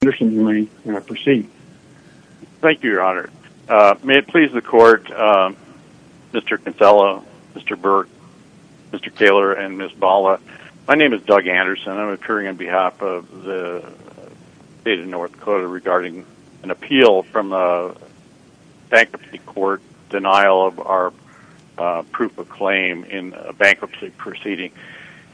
and Doug Anderson. May it please the court, Mr. Casella, Mr. Burke, Mr. Taylor, and Ms. Bala. My name is Doug Anderson. I'm appearing on behalf of the state of North Dakota regarding an appeal from a bankruptcy court, denial of our proof of claim in a bankruptcy proceeding.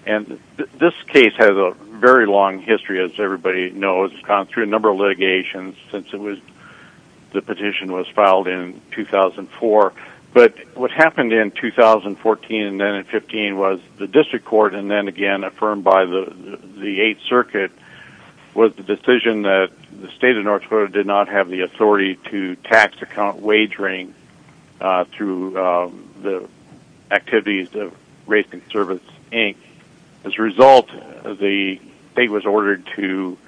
This case has a very long history, as everybody knows. It's gone through a number of litigations since the petition was filed in 2004. But what happened in 2014 and then in 2015 was the district court, and then again affirmed by the 8th Circuit, was the decision that the state of North Dakota did not have the authority to tax account wagering through the activities of Race and Service, Inc. As a result, the state was ordered to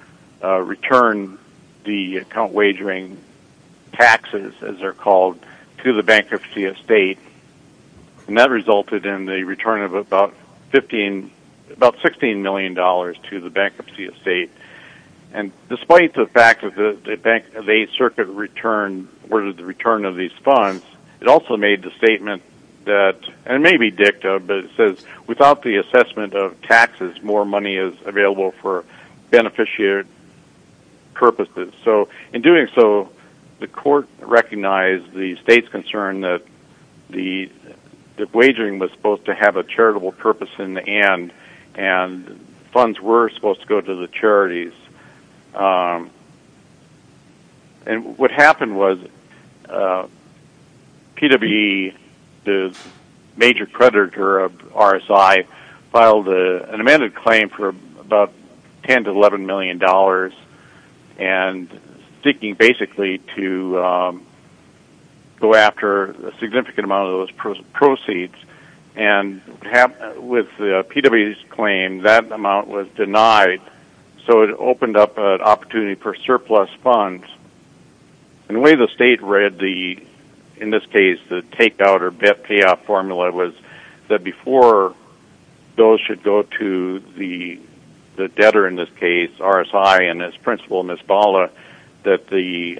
return the account wagering taxes, as they're called, to the bankruptcy estate. And that resulted in the return of about $16 million to the bankruptcy estate. And despite the fact that the 8th Circuit ordered the return of these funds, it also made the statement that, and maybe dicta, but it says, without the assessment of taxes, more money is available for beneficiary purposes. So in doing so, the court recognized the state's concern that the wagering was supposed to have a charitable purpose in the end, and funds were supposed to go to the And what happened was, PW, the major creditor of RSI, filed an amended claim for about $10 to $11 million, and seeking basically to go after a significant amount of those proceeds. And with PW's claim, that amount was denied. So it opened up an opportunity for surplus funds. And the way the state read the, in this case, the take-out or bet payoff formula, was that before those should go to the debtor, in this case, RSI, and its principal, Ms. Bala, that the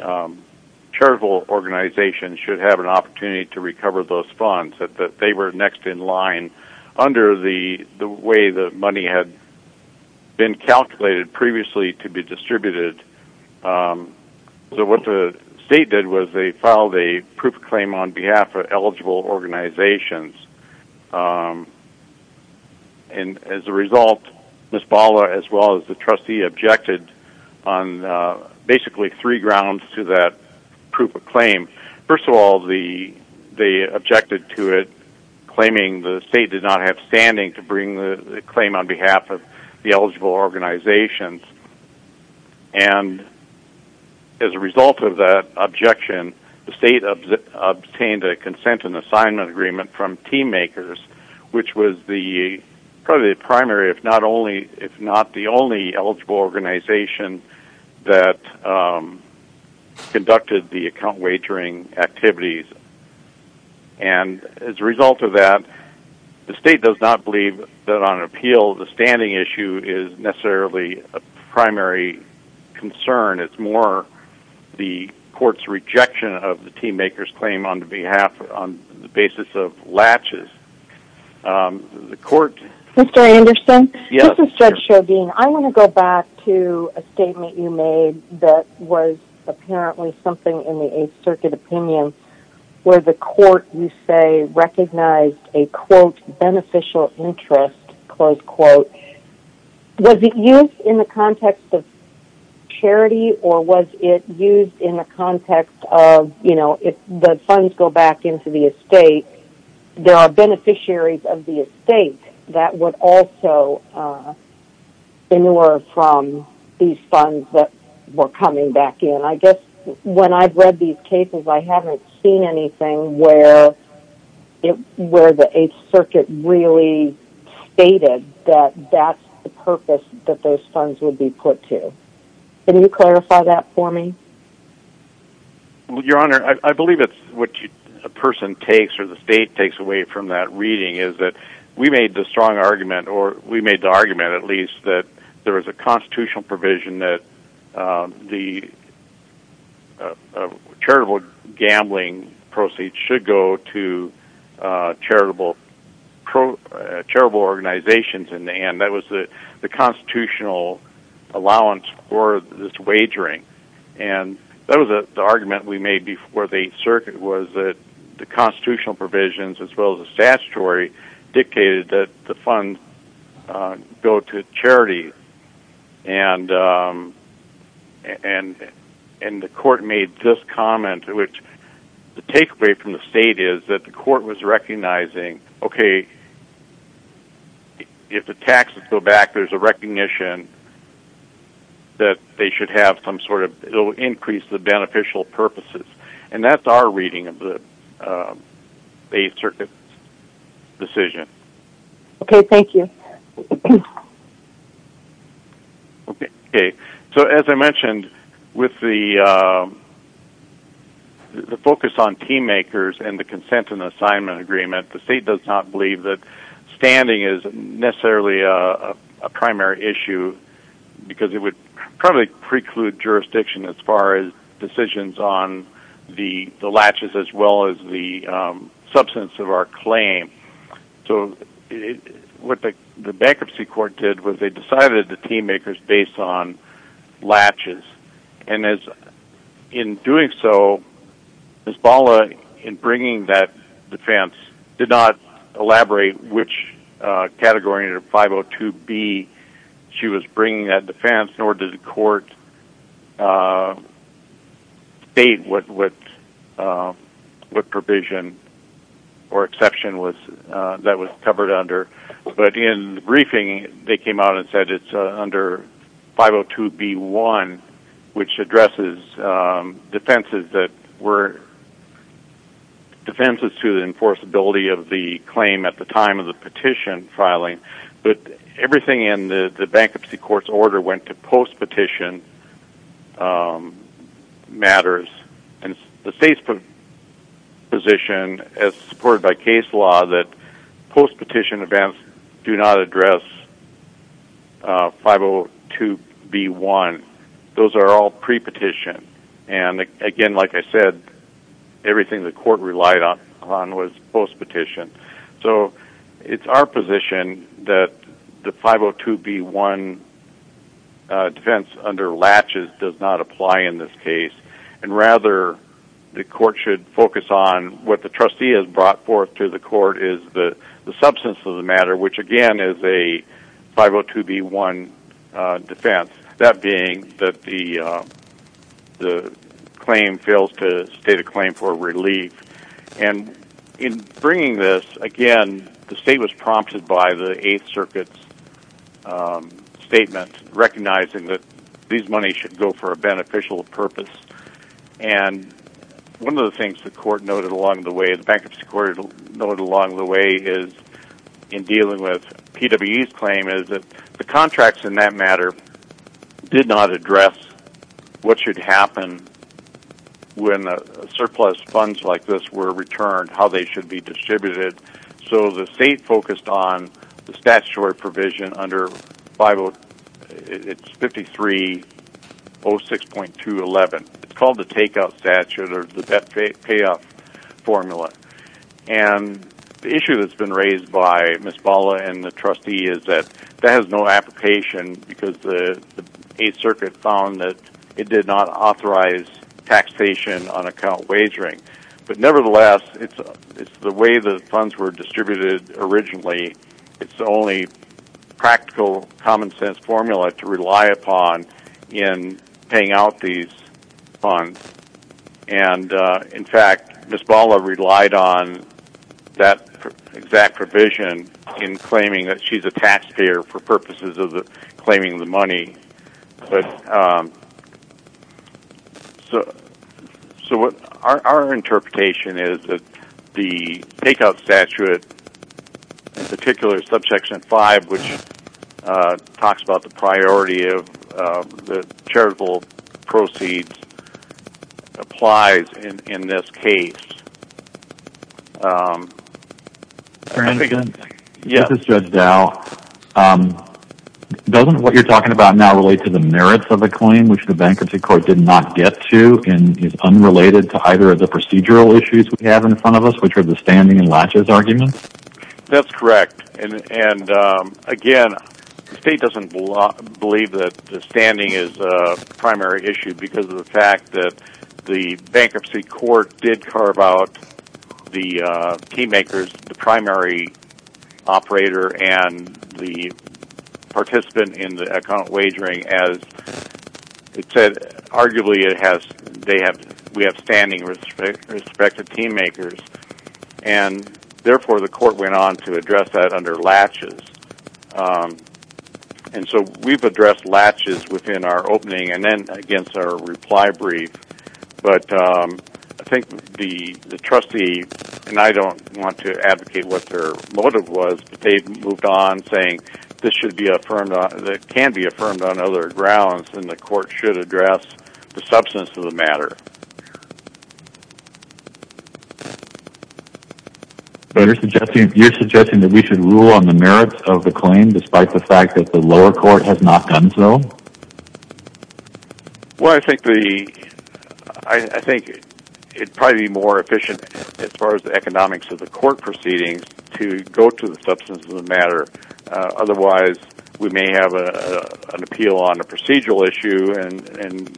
charitable organization should have an opportunity to recover those funds, that they were next in line under the way the money had been calculated previously to be distributed. So what the state did was they filed a proof of claim on behalf of eligible organizations. And as a result, Ms. Bala, as well as the trustee, objected on basically three grounds to that proof of claim. First of all, they objected to it, claiming the claim on behalf of the eligible organizations. And as a result of that objection, the state obtained a consent and assignment agreement from TeamMakers, which was the primary, if not the only, eligible organization that conducted the account wagering activities. And as a appeal, the standing issue is necessarily a primary concern. It's more the court's rejection of the TeamMakers claim on behalf, on the basis of latches. The court... Mr. Anderson? Yes. This is Judge Shobine. I want to go back to a statement you made that was apparently something in the Eighth Circuit opinion, where the court, you say, recognized a, quote, Was it used in the context of charity, or was it used in the context of, you know, if the funds go back into the estate, there are beneficiaries of the estate that would also ignore from these funds that were coming back in. I guess when I've read these cases, I haven't seen anything where the Eighth Circuit really stated that that's the purpose that those funds would be put to. Can you clarify that for me? Your Honor, I believe it's what a person takes, or the state takes away from that reading, is that we made the strong argument, or we made the argument at least, that there is a constitutional provision that the charitable gambling proceeds should go to charitable organizations, and that was the constitutional allowance for this wagering. And that was the argument we made before the Eighth Circuit, was that the constitutional provisions, as And the court made this comment, which the takeaway from the state is that the court was recognizing, okay, if the taxes go back, there's a recognition that they should have some sort of, it'll increase the beneficial purposes. And that's our reading of the Eighth Circuit's decision. Okay, thank you. Okay, so as I mentioned, with the focus on team makers and the consent and assignment agreement, the state does not believe that standing is necessarily a primary issue, because it would probably preclude jurisdiction as far as decisions on the latches as well as the substance of our claim. So what the bankruptcy court did was they decided the team makers based on latches. And in doing so, Ms. Balla, in bringing that defense, did not elaborate which category of 502B she was bringing that defense, nor did the court state what provision or exception that was covered under. But in the briefing, they came out and said it's under 502B1, which addresses defenses that were defenses to the enforceability of the claim at the time of the petition filing. But everything in the bankruptcy court's order went to post-petition matters. And the state's position, as supported by case law, that 502B1, those are all pre-petition. And again, like I said, everything the court relied on was post-petition. So it's our position that the 502B1 defense under latches does not apply in this case. And rather, the court should focus on what the trustee has brought forth to the defense. That being that the claim fails to state a claim for relief. And in bringing this, again, the state was prompted by the Eighth Circuit's statement recognizing that these money should go for a beneficial purpose. And one of the things the court noted along the way, in dealing with PWE's claim, is that the contracts in that matter did not address what should happen when surplus funds like this were returned, how they should be distributed. So the state focused on the statutory provision under 5306.211. It's called the take-out statute or the The issue that's been raised by Ms. Bala and the trustee is that that has no application because the Eighth Circuit found that it did not authorize taxation on account of wagering. But nevertheless, it's the way the funds were distributed originally. It's the only practical common-sense formula to rely upon in paying out these funds. And in fact, Ms. Bala relied on that exact provision in claiming that she's a taxpayer for purposes of claiming the money. So our interpretation is that the take-out statute, in particular Subsection 5, which talks about the priority of the charitable proceeds, applies in this case. Mr. Hansen, this is Judge Dow. Doesn't what you're talking about now relate to the merits of the claim, which the bankruptcy court did not get to and is unrelated to either of the procedural issues we have in front of us, which are the standing and latches arguments? That's correct. And again, the state doesn't believe that the standing is a primary issue because of the fact that the bankruptcy court did carve out the team makers, the primary operator and the participant in the account wagering as it said, arguably we have standing respective team makers. And therefore, the court went on to address that under latches. And so we've addressed latches within our opening and then against our reply brief. But I think the trustee, and I don't want to advocate what their motive was, but they moved on saying this should be affirmed, that it can be affirmed on other grounds and the You're suggesting that we should rule on the merits of the claim despite the fact that the lower court has not done so? Well, I think it'd probably be more efficient as far as the economics of the court proceedings to go to the substance of the matter. Otherwise, we may have an appeal on a procedural issue and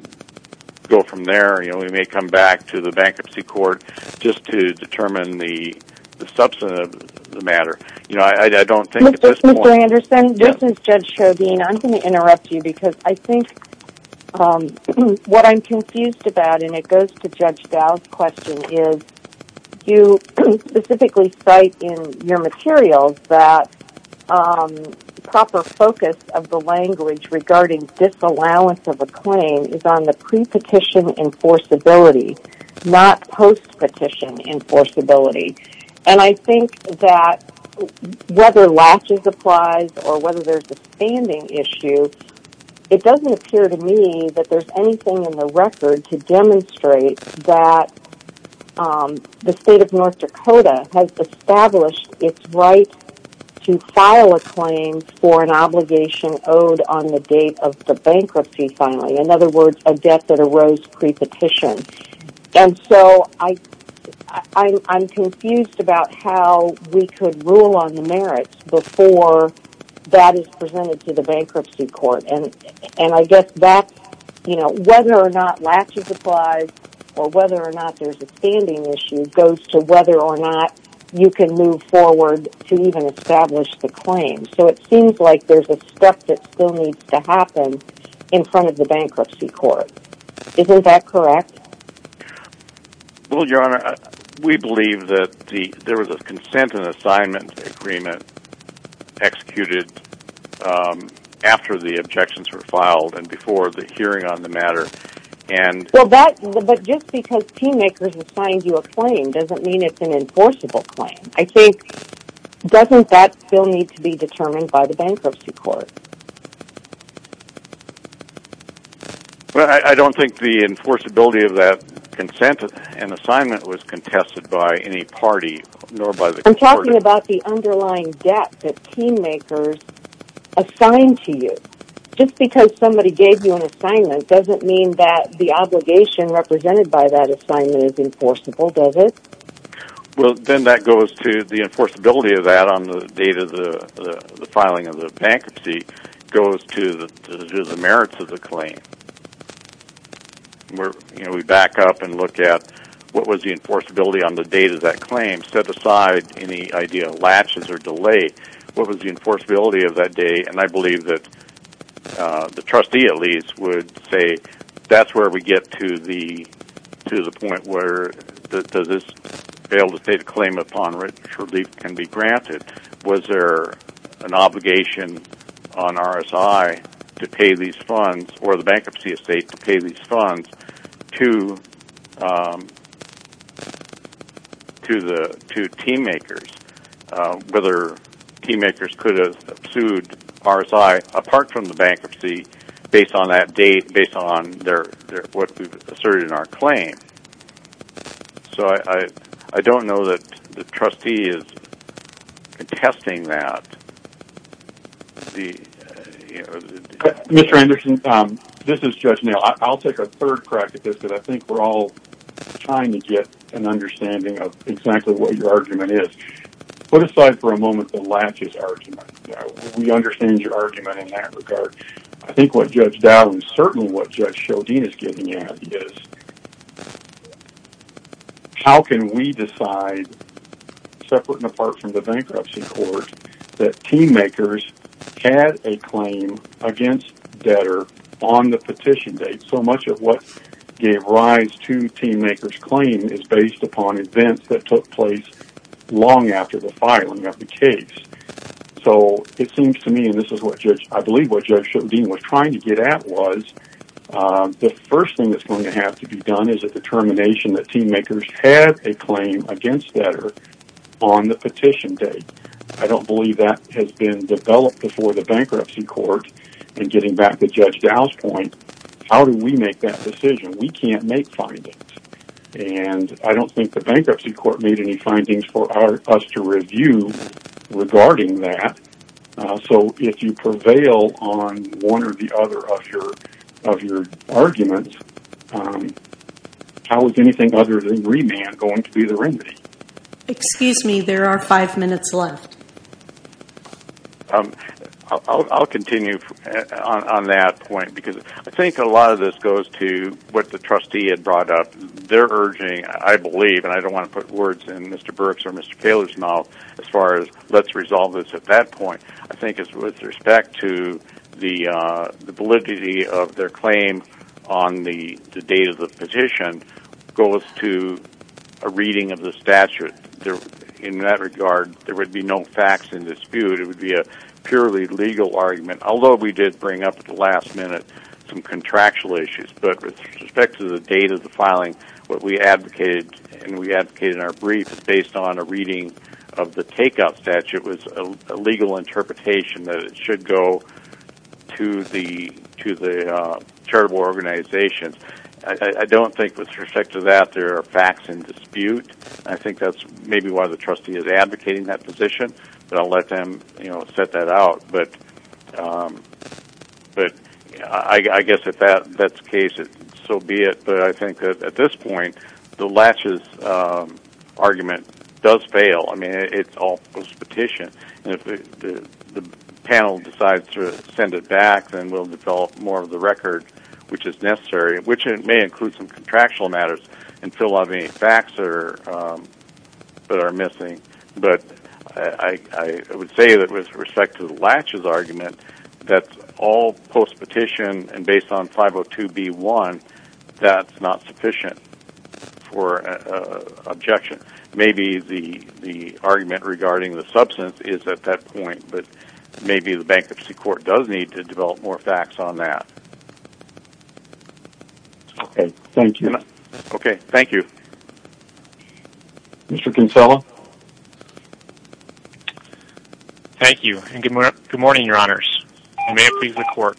go from there. We may come back to the bankruptcy court just to determine the substance of the matter. I don't think at this point... Mr. Anderson, this is Judge Chauvin. I'm going to interrupt you because I think what I'm confused about, and it goes to Judge Dow's question, is you specifically cite in your claim is on the pre-petition enforceability, not post-petition enforceability. And I think that whether latches applies or whether there's a standing issue, it doesn't appear to me that there's anything in the record to demonstrate that the state of North Dakota has established its right to file a claim for an obligation owed on the date of the bankruptcy filing. In other words, a debt that arose pre-petition. And so, I'm confused about how we could rule on the merits before that is presented to the bankruptcy court. And I guess that, you know, whether or not latches applies or whether or not there's a standing issue goes to whether or not you can move forward to even establish the claim. So it seems like there's a step that still needs to happen in front of the bankruptcy court. Isn't that correct? Well, Your Honor, we believe that there was a consent and assignment agreement executed after the objections were filed and before the hearing on the matter. Well, but just because team makers assigned you a claim doesn't mean it's an enforceable claim. I think, doesn't that still need to be determined by the bankruptcy court? Well, I don't think the enforceability of that consent and assignment was contested by any party nor by the court. I'm talking about the underlying debt that team makers assigned to you. Just because somebody gave you an assignment doesn't mean that the obligation represented by that assignment is enforceable, does it? Well, then that goes to the enforceability of that on the date of the filing of the bankruptcy goes to the merits of the claim. You know, we back up and look at what was the enforceability on the date of that claim, set aside any idea of latches or delay, what was the enforceability of that date, and I believe that the trustee at least would say that's where we get to the point where does this fail to state a claim upon which relief can be granted. Was there an obligation on RSI to pay these funds or the bankruptcy estate to pay these funds to team makers, whether team makers could have sued RSI apart from the bankruptcy based on that date, based on what we've asserted in our claim. So I don't know that the trustee is contesting that. Mr. Anderson, this is Judge Neal. I'll take a third crack at this because I think we're all trying to get an understanding of exactly what your argument is. Put aside for a moment the latches argument. We understand your argument in that regard. I think what Judge Dowling, certainly what Judge Sheldine is getting at is how can we decide, separate and apart from the bankruptcy court, that team makers had a claim against debtor on the petition date. So much of what gave rise to team makers' claim is based upon events that took place long after the filing of the case. So it seems to me, and this is what Judge Sheldine was trying to get at, was the first thing that's going to have to be done is a determination that team makers had a claim against debtor on the petition date. I don't believe that has been developed before the bankruptcy court. And getting back to Judge Dowling's point, how do we make that decision? We can't make findings. And I don't think the bankruptcy court made any findings for us to review regarding that. So if you prevail on one or the other of your arguments, how is anything other than remand going to be the remedy? Excuse me, there are five minutes left. I'll continue on that point because I think a lot of this goes to what the trustee had received, and I don't want to put words in Mr. Burke's or Mr. Taylor's mouth as far as let's resolve this at that point. I think it's with respect to the validity of their claim on the date of the petition goes to a reading of the statute. In that regard, there would be no facts in dispute. It would be a purely legal argument, although we did bring up at the last minute some contractual issues. But with respect to the date of the petition we advocated in our brief, it's based on a reading of the takeout statute. It was a legal interpretation that it should go to the charitable organization. I don't think with respect to that there are facts in dispute. I think that's maybe why the trustee is advocating that position. But I'll let them set that out. But I guess if that's the case, so be it. But I think at this point, the Latches argument does fail. It's all post-petition. If the panel decides to send it back, then we'll develop more of the record which is necessary, which may include some contractual matters until a lot of the facts are missing. But I would say that with respect to the Latches argument, that's all post-petition and based on 502B1, that's not sufficient for objection. Maybe the argument regarding the substance is at that point, but maybe the Bankruptcy Court does need to develop more facts on that. Okay. Thank you. Okay. Thank you. Mr. Kinsella? Thank you. And good morning, Your Honors. And may it please the Court.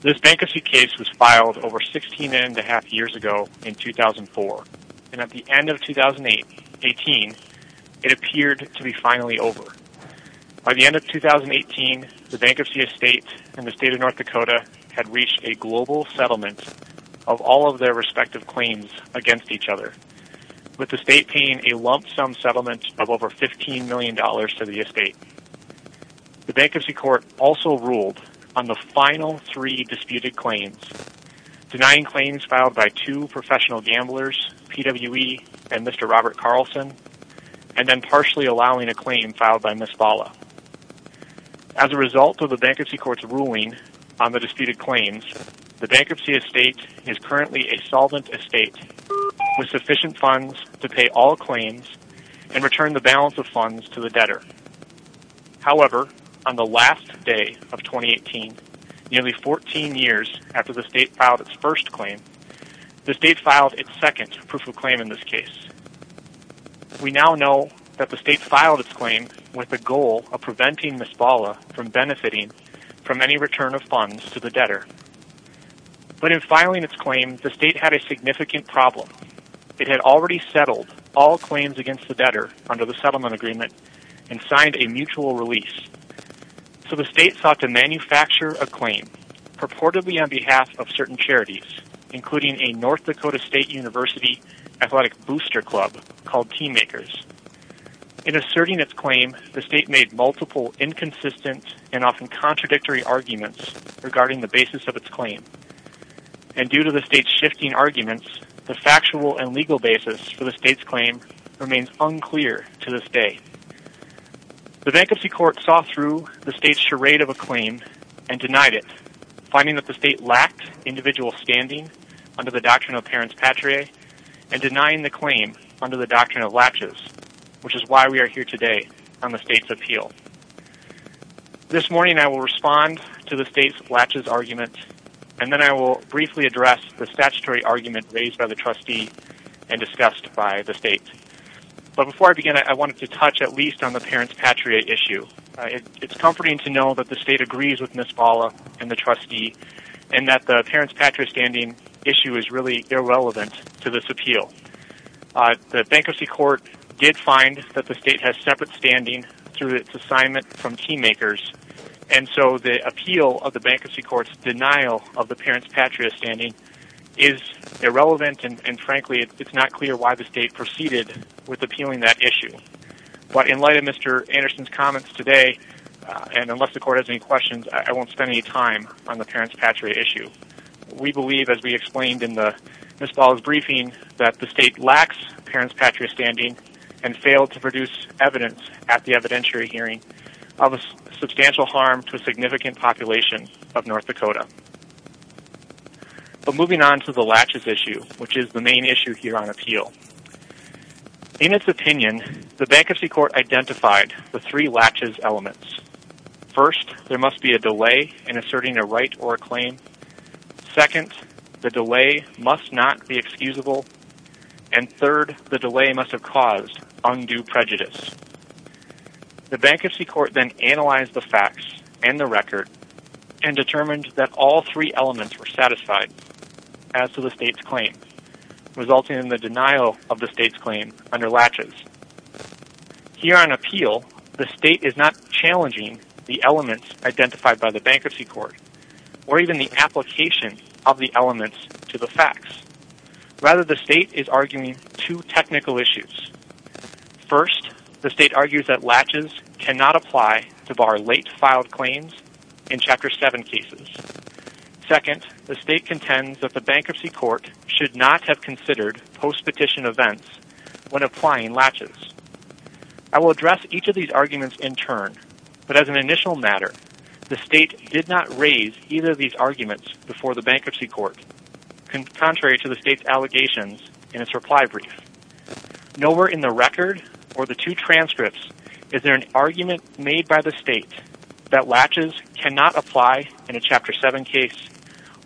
This bankruptcy case was filed over 16 and a half years ago in 2004. And at the end of 2018, it appeared to be finally over. By the end of 2018, the Bankruptcy Estate and the State of North Dakota had reached a global settlement of all of their respective claims against each other. With the State paying a lump sum settlement of over $15 million to the Estate. The Bankruptcy Court also ruled on the final three disputed claims, denying claims filed by two professional gamblers, PWE and Mr. Robert Carlson, and then partially allowing a claim filed by Ms. Bala. As a result of the Bankruptcy Court's ruling on the disputed claims, the Bankruptcy Estate is currently a solvent estate with sufficient funds to pay all claims and return the balance of funds to the debtor. However, on the last day of 2018, nearly 14 years after the State filed its first claim, the State filed its second proof of claim in this case. We now know that the State filed its claim with the goal of preventing Ms. Bala from Filing its claim, the State had a significant problem. It had already settled all claims against the debtor under the settlement agreement and signed a mutual release. So the State sought to manufacture a claim purportedly on behalf of certain charities, including a North Dakota State University athletic booster club called Team Makers. In asserting its claim, the State made multiple inconsistent and often contradictory arguments regarding the basis of its claim. And due to the State's shifting arguments, the factual and legal basis for the State's claim remains unclear to this day. The Bankruptcy Court saw through the State's charade of a claim and denied it, finding that the State lacked individual standing under the doctrine of parents patriae and denying the claim under the doctrine of latches, which is why we are here today on the State's appeal. This morning I will respond to the State's latches argument, and then I will briefly address the statutory argument raised by the trustee and discussed by the State. But before I begin, I wanted to touch at least on the parents patriae issue. It's comforting to know that the State agrees with Ms. Bala and the trustee, and that the parents patriae standing issue is really irrelevant to this appeal. The Bankruptcy Court did find that the State has separate standing through its assignment from team makers, and so the appeal of the Bankruptcy Court's denial of the parents patriae standing is irrelevant and frankly it's not clear why the State proceeded with appealing that issue. But in light of Mr. Anderson's comments today, and unless the Court has any questions, I won't spend any time on the parents patriae issue. We believe, as we explained in Ms. Bala's briefing, that the State lacks parents patriae standing and failed to produce evidence at the evidentiary hearing of a substantial harm to a significant population of North Dakota. But moving on to the latches issue, which is the main issue here on appeal. In its opinion, the Bankruptcy Court identified the three latches elements. First, there must be a delay in asserting a right or a claim. Second, the delay must not be excusable. And third, the delay must have caused undue prejudice. The Bankruptcy Court then analyzed the facts and the record and determined that all three elements were satisfied as to the State's claim, resulting in the denial of the State's claim under latches. Here on appeal, the State is not challenging the elements identified by the Bankruptcy Court, or even the application of the elements to the facts. Rather, the State is arguing two technical issues. First, the State argues that latches cannot apply to bar late filed claims in Chapter 7 cases. Second, the State contends that the Bankruptcy Court should not have considered post-petition events when applying latches. I will address each of these arguments in turn, but as an initial matter, the State did not raise either of these arguments before the Bankruptcy Court, contrary to the State's allegations in its reply brief. Nowhere in the record or the two transcripts is there an argument made by the State that latches cannot apply in a Chapter 7 case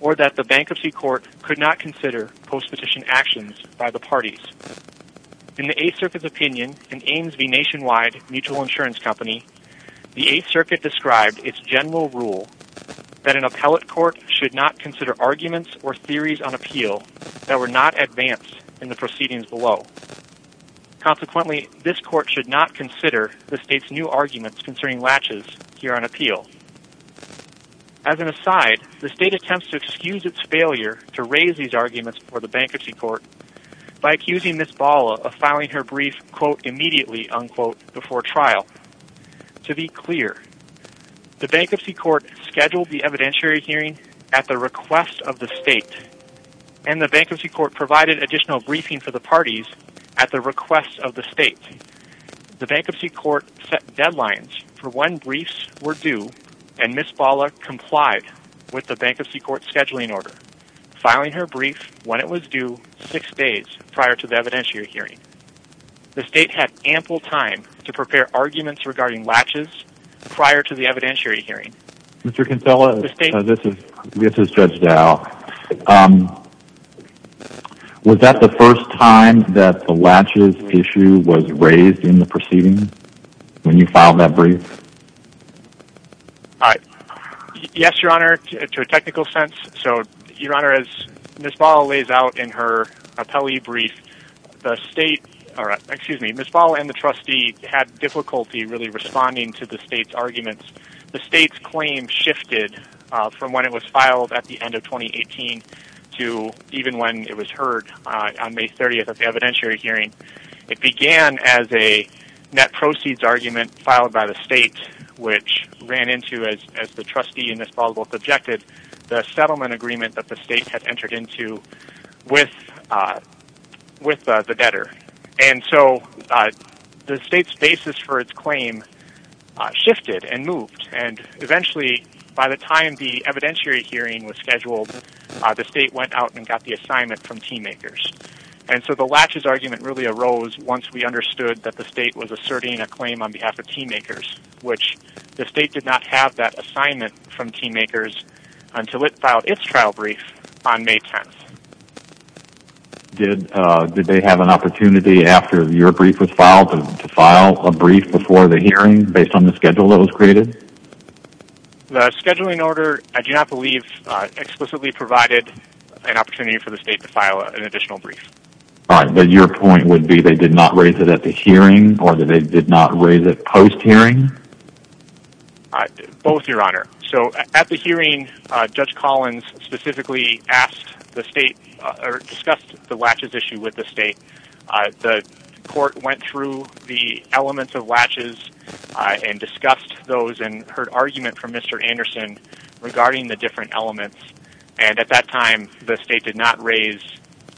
or that the Bankruptcy Court could not consider post-petition actions by the parties. In the Eighth Circuit's opinion in Ames v. Nationwide Mutual Insurance Company, the Eighth Circuit described its general rule that an appellate court should not consider arguments or theories on appeal that were not advanced in the proceedings below. Consequently, this court should not consider the State's new arguments concerning latches here on appeal. As an aside, the State attempts to excuse its failure to raise these arguments before the Bankruptcy Court by accusing Ms. Bala of filing her brief quote immediately unquote before trial. To be clear, the Bankruptcy Court scheduled the evidentiary hearing at the request of the State and the Bankruptcy Court provided additional briefing for the parties at the request of the State. The Bankruptcy Court set deadlines for when briefs were due and Ms. Bala complied with the Bankruptcy Court's scheduling order, filing her brief when it was due six days prior to the evidentiary hearing. The State had ample time to prepare arguments regarding latches prior to the evidentiary hearing. Mr. Kinsella, this is Judge Dow. Was that the first time that the latches issue was raised in the proceedings when you filed that brief? Yes, Your Honor, to a technical sense. So, Your Honor, as Ms. Bala lays out in her appellee brief, the State, or excuse me, Ms. Bala and the trustee had difficulty really responding to the State's arguments. The State's claim shifted from when it was filed at the end of 2018 to even when it was heard on May 30th at the evidentiary hearing. It began as a net proceeds argument filed by the State, which ran into, as the trustee and Ms. Bala both objected, the settlement agreement that the State had entered into with the debtor. And so, the State's basis for its claim shifted and moved. And eventually, by the time the evidentiary hearing was scheduled, the State went out and got the assignment from TeamMakers. And so, the latches argument really arose once we understood that the State was asserting a claim on behalf of TeamMakers, which the State did not have that assignment from TeamMakers until it filed its trial brief on May 10th. Did they have an opportunity after your brief was filed to file a brief before the hearing based on the schedule that was created? The scheduling order, I do not believe, explicitly provided an opportunity for the State to file an additional brief. Alright, but your point would be they did not raise it at the hearing or that they did not raise it post-hearing? Both, Your Honor. So, at the hearing, Judge Collins specifically asked the State, or discussed the latches issue with the State. The court went through the elements of latches and discussed those and heard argument from Mr. Anderson regarding the different elements. And at that time, the State did not raise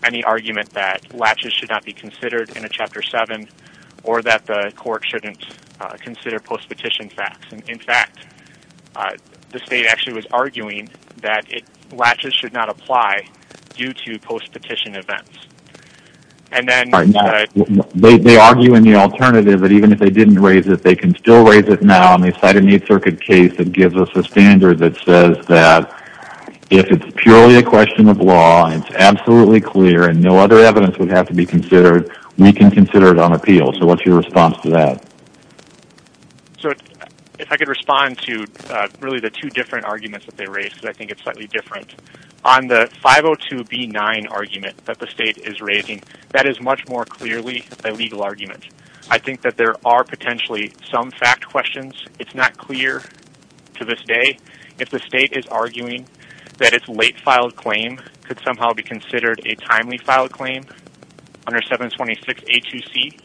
any argument that latches should not be considered in a Chapter 7 or that the court shouldn't consider post-petition facts. In fact, the State actually was arguing that latches should not apply due to post-petition events. Alright, now, they argue in the alternative that even if they didn't raise it, they can still raise it now on the side of an Eighth Circuit case that gives us a standard that says that if it's purely a question of law and it's absolutely clear and no other evidence would have to be considered, we can consider it on appeal. So, what's your response to that? So, if I could respond to really the two different arguments that they raised, because I think that is much more clearly a legal argument. I think that there are potentially some fact questions. It's not clear to this day. If the State is arguing that it's late filed claim could somehow be considered a timely filed claim under 726A2C,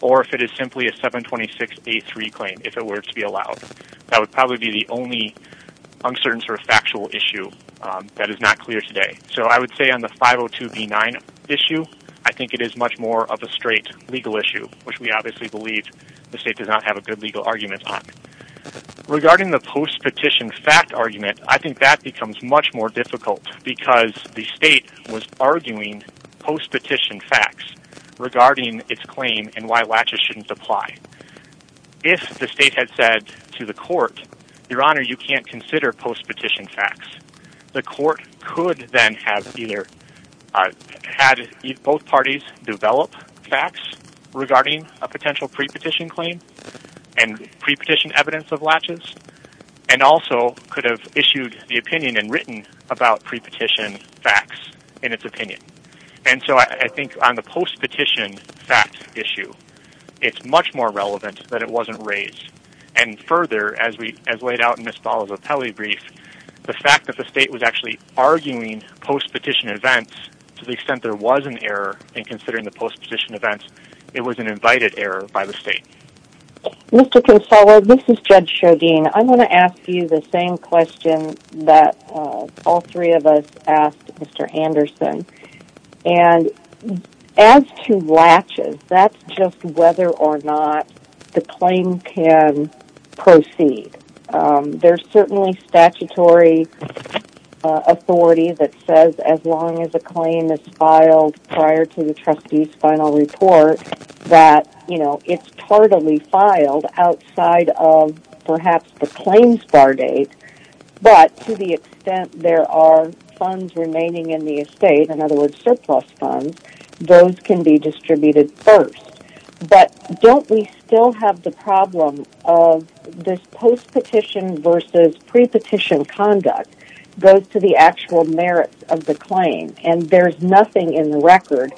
or if it is simply a 726A3 claim, if it were to be allowed. That would probably be the only uncertain sort of claim that is not clear today. So, I would say on the 502B9 issue, I think it is much more of a straight legal issue, which we obviously believe the State does not have a good legal argument on. Regarding the post-petition fact argument, I think that becomes much more difficult because the State was arguing post-petition facts regarding its claim and why latches shouldn't apply. If the State had said to the court, Your Honor, you can't consider post-petition facts, the court could then have either had both parties develop facts regarding a potential pre-petition claim and pre-petition evidence of latches, and also could have issued the opinion and written about pre-petition facts in its opinion. And so, I think on the post-petition fact issue, it's much more relevant that it wasn't raised. And further, as laid out in the statute, the fact that the State was actually arguing post-petition events, to the extent there was an error in considering the post-petition events, it was an invited error by the State. Mr. Consola, this is Judge Chaudine. I want to ask you the same question that all three of us asked Mr. Anderson. And as to latches, that's just whether or not the claim can proceed. There's certainly statutory authority that says as long as a claim is filed prior to the trustee's final report that, you know, it's tardily filed outside of perhaps the claims bar date. But to the extent there are funds remaining in the estate, in other words surplus funds, those can be distributed first. But don't we still have the problem of this post-petition versus pre-petition conduct goes to the actual merits of the claim. And there's nothing in the record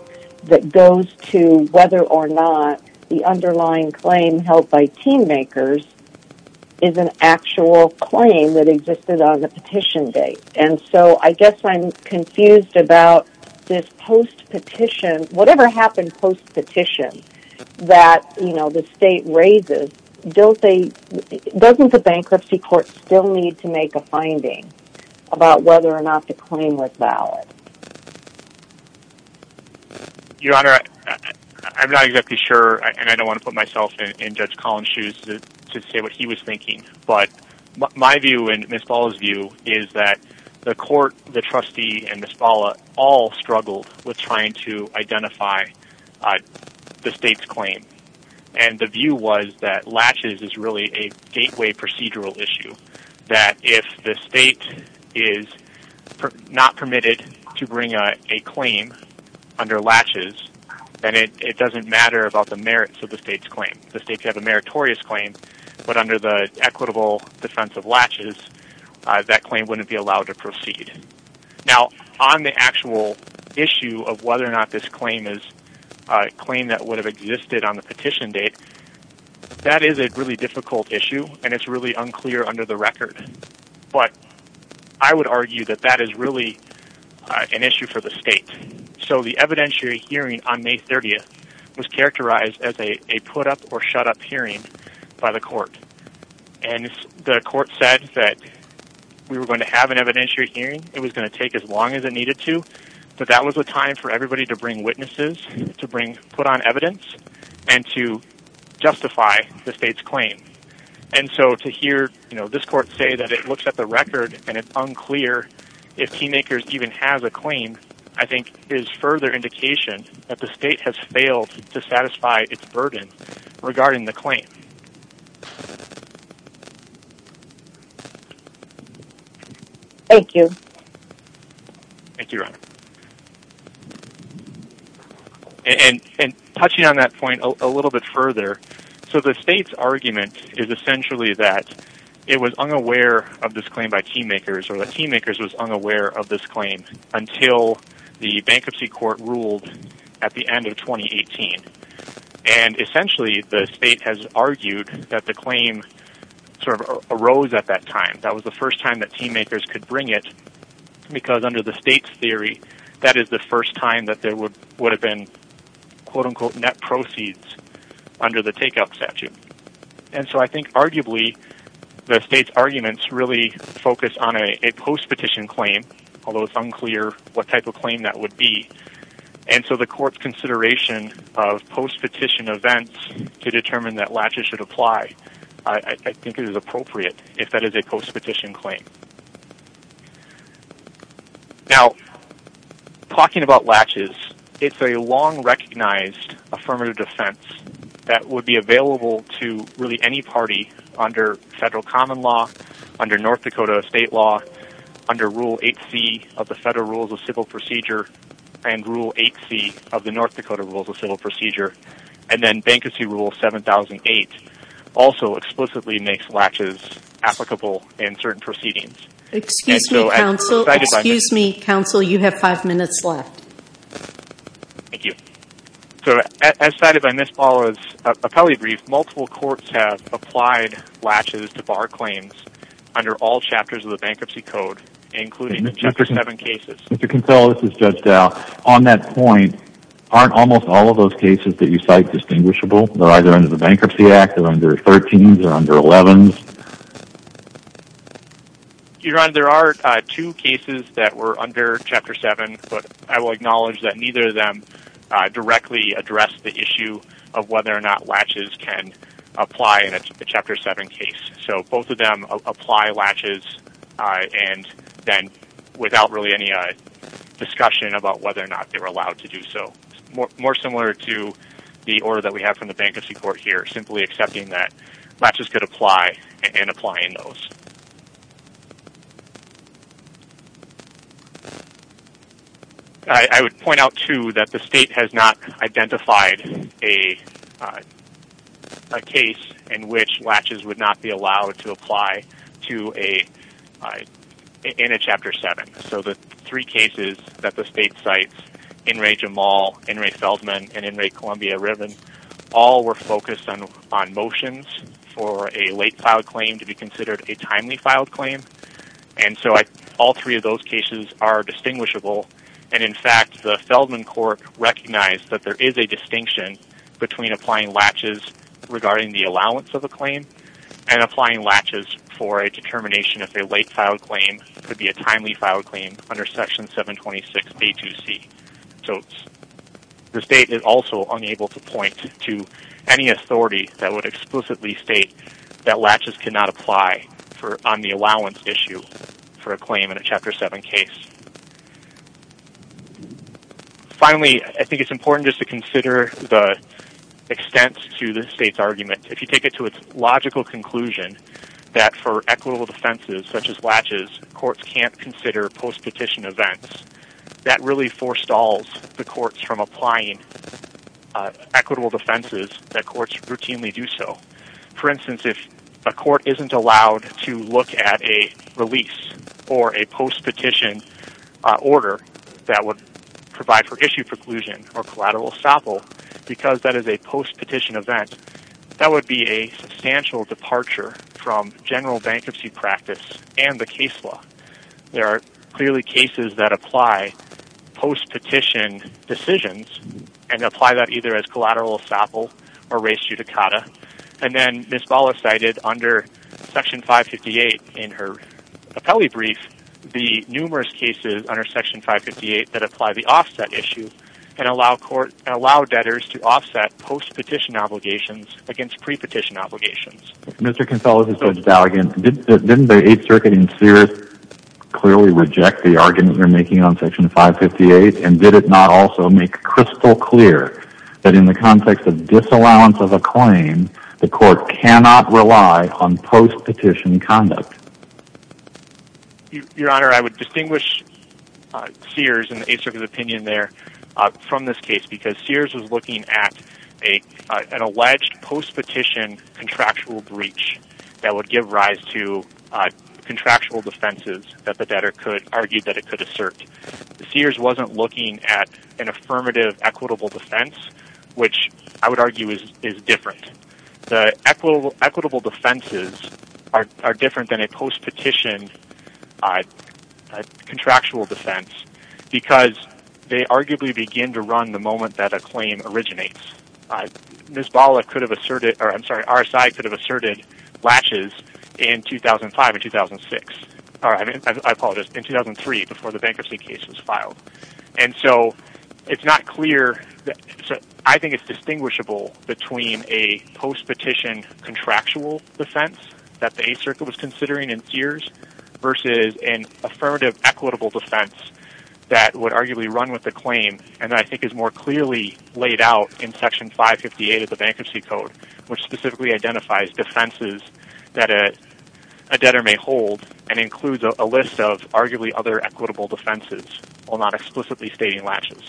that goes to whether or not the underlying claim held by team makers is an actual claim that existed on the petition date. And so, I guess I'm confused about this post-petition, whatever happened post-petition, that, you know, the Bankruptcy Court still need to make a finding about whether or not the claim was valid. Your Honor, I'm not exactly sure and I don't want to put myself in Judge Collins' shoes to say what he was thinking. But my view and Ms. Bala's view is that the court, the trustee and Ms. Bala all struggled with trying to identify the State's claim. And the view was that latches is really a gateway procedural issue. That if the State is not permitted to bring a claim under latches, then it doesn't matter about the merits of the State's claim. The State could have a meritorious claim, but under the equitable defense of latches, that claim wouldn't be allowed to proceed. Now, on the actual issue of whether or not this claim is a claim that would have existed on the petition date, that is a really difficult issue and it's really unclear under the record. But I would argue that that is really an issue for the State. So the evidentiary hearing on May 30th was characterized as a put-up or shut-up hearing by the court. And the court said that we were going to have an evidentiary hearing. It was going to take as long as it needed to. But that was a time for everybody to bring witnesses, to put on evidence and to justify the State's claim. And so to hear this court say that it looks at the record and it's unclear if Keymakers even has a claim, I think is further indication that the State has failed to satisfy its burden regarding the claim. Thank you. Thank you, Ronna. And touching on that point a little bit further, so the State's argument is essentially that it was unaware of this claim by Keymakers, or that Keymakers was unaware of this claim until the Bankruptcy Court ruled at the end of 2018. And essentially the State has argued that the claim sort of arose at that time. That was the first time that Keymakers could bring it, because under the State's theory, that is the first time that there would have been quote-unquote net proceeds under the takeout statute. And so I think arguably the State's arguments really focus on a post-petition claim, although it's unclear what type of claim that would be. And so the court's consideration of post-petition events to determine that latches should apply, I think is appropriate if that is a post-petition claim. Now, talking about latches, it's a long-recognized affirmative defense that would be available to really any party under federal common law, under North Dakota state law, under Rule 8c of the Federal Rules of Civil Procedure, and Rule 8c of the North Dakota Rules of Civil Procedure. And then Bankruptcy Rule 7008 also explicitly makes latches applicable in certain proceedings. Excuse me, counsel. Excuse me, counsel. You have five minutes left. Thank you. So as cited by Ms. Baller's appellate brief, multiple courts have applied latches to bar claims under all chapters of the Bankruptcy Code, including Chapter 7 cases. Mr. Kinsella, this is Judge Dow. On that point, aren't almost all of those cases that you cite distinguishable? They're either under the Bankruptcy Act, they're under 13s or under 11s? Your Honor, there are two cases that were under Chapter 7, but I will acknowledge that neither of them directly addressed the issue of whether or not latches can apply in a Chapter 7 case. So both of them apply latches and then without really any discussion about whether or not they were allowed to do so. More similar to the order that we have from the Bankruptcy Court here, simply accepting that latches could apply and applying those. I would point out, too, that the State has not identified a case in which latches would not be allowed to apply in a Chapter 7. So the three cases that the State cites, In re. Jamal, In re. Feldman, and In re. Columbia-Riven, all were focused on motions for a late-filed claim to be considered a timely-filed claim. And so all three of those cases are distinguishable. And in fact, the Feldman Court recognized that there is a distinction between applying latches regarding the allowance of a claim and applying latches for a determination if a late-filed claim could be a timely-filed claim under Section 726b2c. So the State is also unable to point to any authority that would explicitly state that latches cannot apply on the allowance issue for a claim in a Chapter 7 case. Finally, I think it's important just to consider the extent to the State's argument. If you take it to its logical conclusion that for equitable defenses such as latches, courts can't consider post-petition events, that really forestalls the courts from applying equitable defenses that courts routinely do so. For instance, if a court isn't allowed to look at a release or a post-petition order that would provide for issue preclusion or collateral essapol, because that is a post-petition event, that would be a substantial departure from general bankruptcy practice and the case law. There are clearly cases that apply post-petition decisions and apply that either as collateral essapol or res judicata. And then Ms. Bala cited under Section 558 in her appellee brief the numerous cases under Section 558 that apply the offset issue and allow debtors to offset post-petition obligations against pre-petition obligations. Mr. Kinsella, this is Judge Dowd again. Didn't the Eighth Circuit in Sears clearly reject the argument you're making on Section 558? And did it not also make crystal clear that in the context of disallowance of a claim, the court cannot rely on post-petition conduct? Your Honor, I would distinguish Sears and the Eighth Circuit's opinion there from this case because Sears was looking at an alleged post-petition contractual breach that would give rise to contractual defenses that the debtor could argue that it could assert. Sears wasn't looking at an affirmative equitable defense, which I would argue is different. The equitable defenses are different than a post-petition contractual defense because they arguably begin to run the moment that a claim originates. Ms. Bala could have asserted, or I'm sorry, RSI could have asserted latches in 2005 and 2006. I apologize, in 2003 before the bankruptcy case was filed. And so it's not clear, I think it's distinguishable between a post-petition contractual defense that the Eighth Circuit was considering in Sears versus an affirmative equitable defense that would arguably run with the claim and I think is more clearly laid out in Section 558 of the Bankruptcy Code, which specifically identifies defenses that a debtor may hold and includes a list of arguably other equitable defenses, while not explicitly stating latches.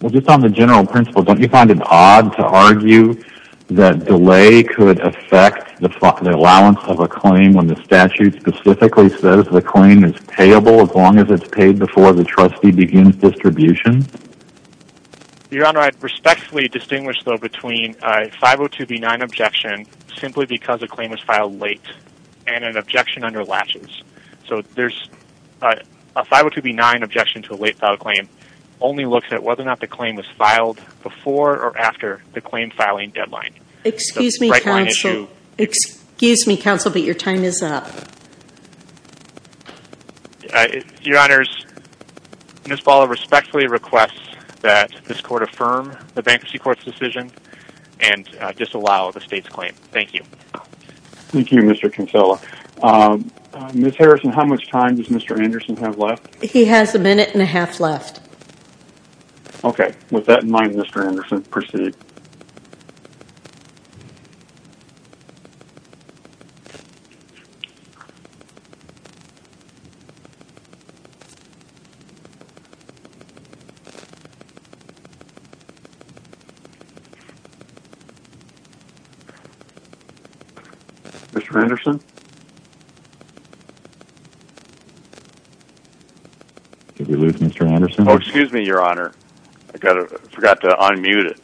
Well, just on the general principle, don't you find it odd to argue that delay could affect the allowance of a claim when the statute specifically says the claim is payable as long as it's paid before the trustee begins distribution? Your Honor, I'd respectfully distinguish though between a 502B9 objection simply because a claim was filed late and an objection under latches. So a 502B9 objection to a late filed claim only looks at whether or not the claim was filed before or after the claim filing deadline. Excuse me, counsel, but your time is up. Your Honors, Ms. Bala respectfully requests that this Court affirm the Bankruptcy Court's decision and disallow the State's claim. Thank you. Thank you, Mr. Kinsella. Ms. Harrison, how much time does Mr. Anderson have left? He has a minute and a half left. Okay. With that in mind, Mr. Anderson, proceed. Mr. Anderson? Did we lose Mr. Anderson? Oh, excuse me, Your Honor. I forgot to unmute it.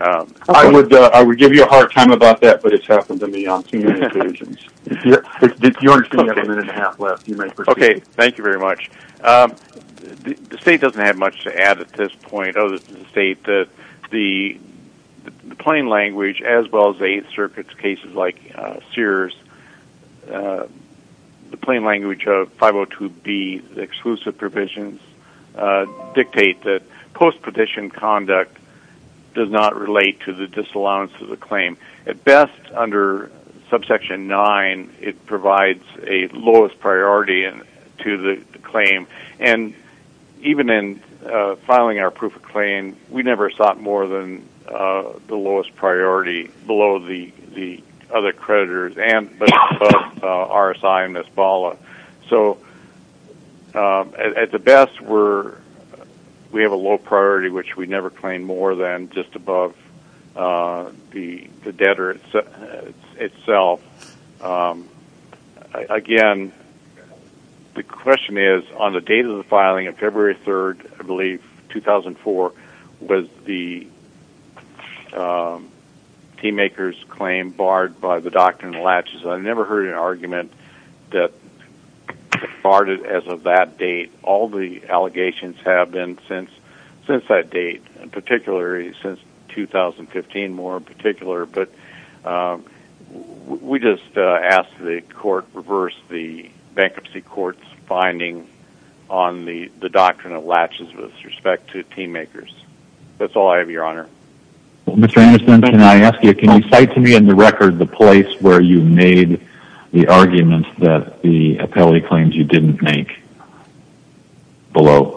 I would give you a hard time about that, but it's happened to me on two occasions. Your Honor, you have a minute and a half left. You may proceed. Okay. Thank you very much. The State doesn't have much to add at this point other than to state that the plain language as well as circuit cases like Sears, the plain language of 502B, the exclusive provisions, dictate that post-petition conduct does not relate to the disallowance of the claim. At best, under subsection 9, it provides a lowest priority to the claim. And even in filing our proof of claim, we never sought more than the lowest priority below the other creditors and above RSI and MS-BALA. So at the best, we have a low priority, which we never claim more than just above the debtor itself. Again, the question is, on the date of the filing, February 3rd, I believe, 2004, was the team maker's claim barred by the doctrine of latches. I've never heard an argument that it's barred as of that date. All the allegations have been since that date, particularly since 2015, more in particular. But we just ask that the court reverse the bankruptcy court's finding on the doctrine of latches with respect to team makers. That's all I have, Your Honor. Mr. Anderson, can I ask you, can you cite to me in the record the place where you made the argument that the appellee claims you didn't make below?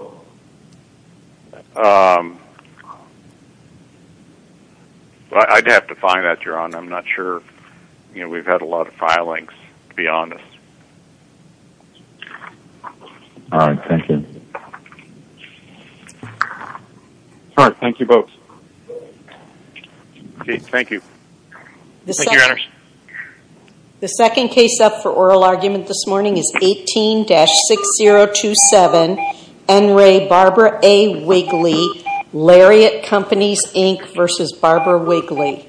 I'd have to find that, Your Honor. I'm not sure. We've had a lot of filings, to be honest. All right. Thank you. All right. Thank you, folks. Okay. Thank you. Thank you, Your Honor. The second case up for oral argument this morning is 18-6027, N. Ray, Barbara A. Wigley, Lariat Companies, Inc. v. Barbara Wigley.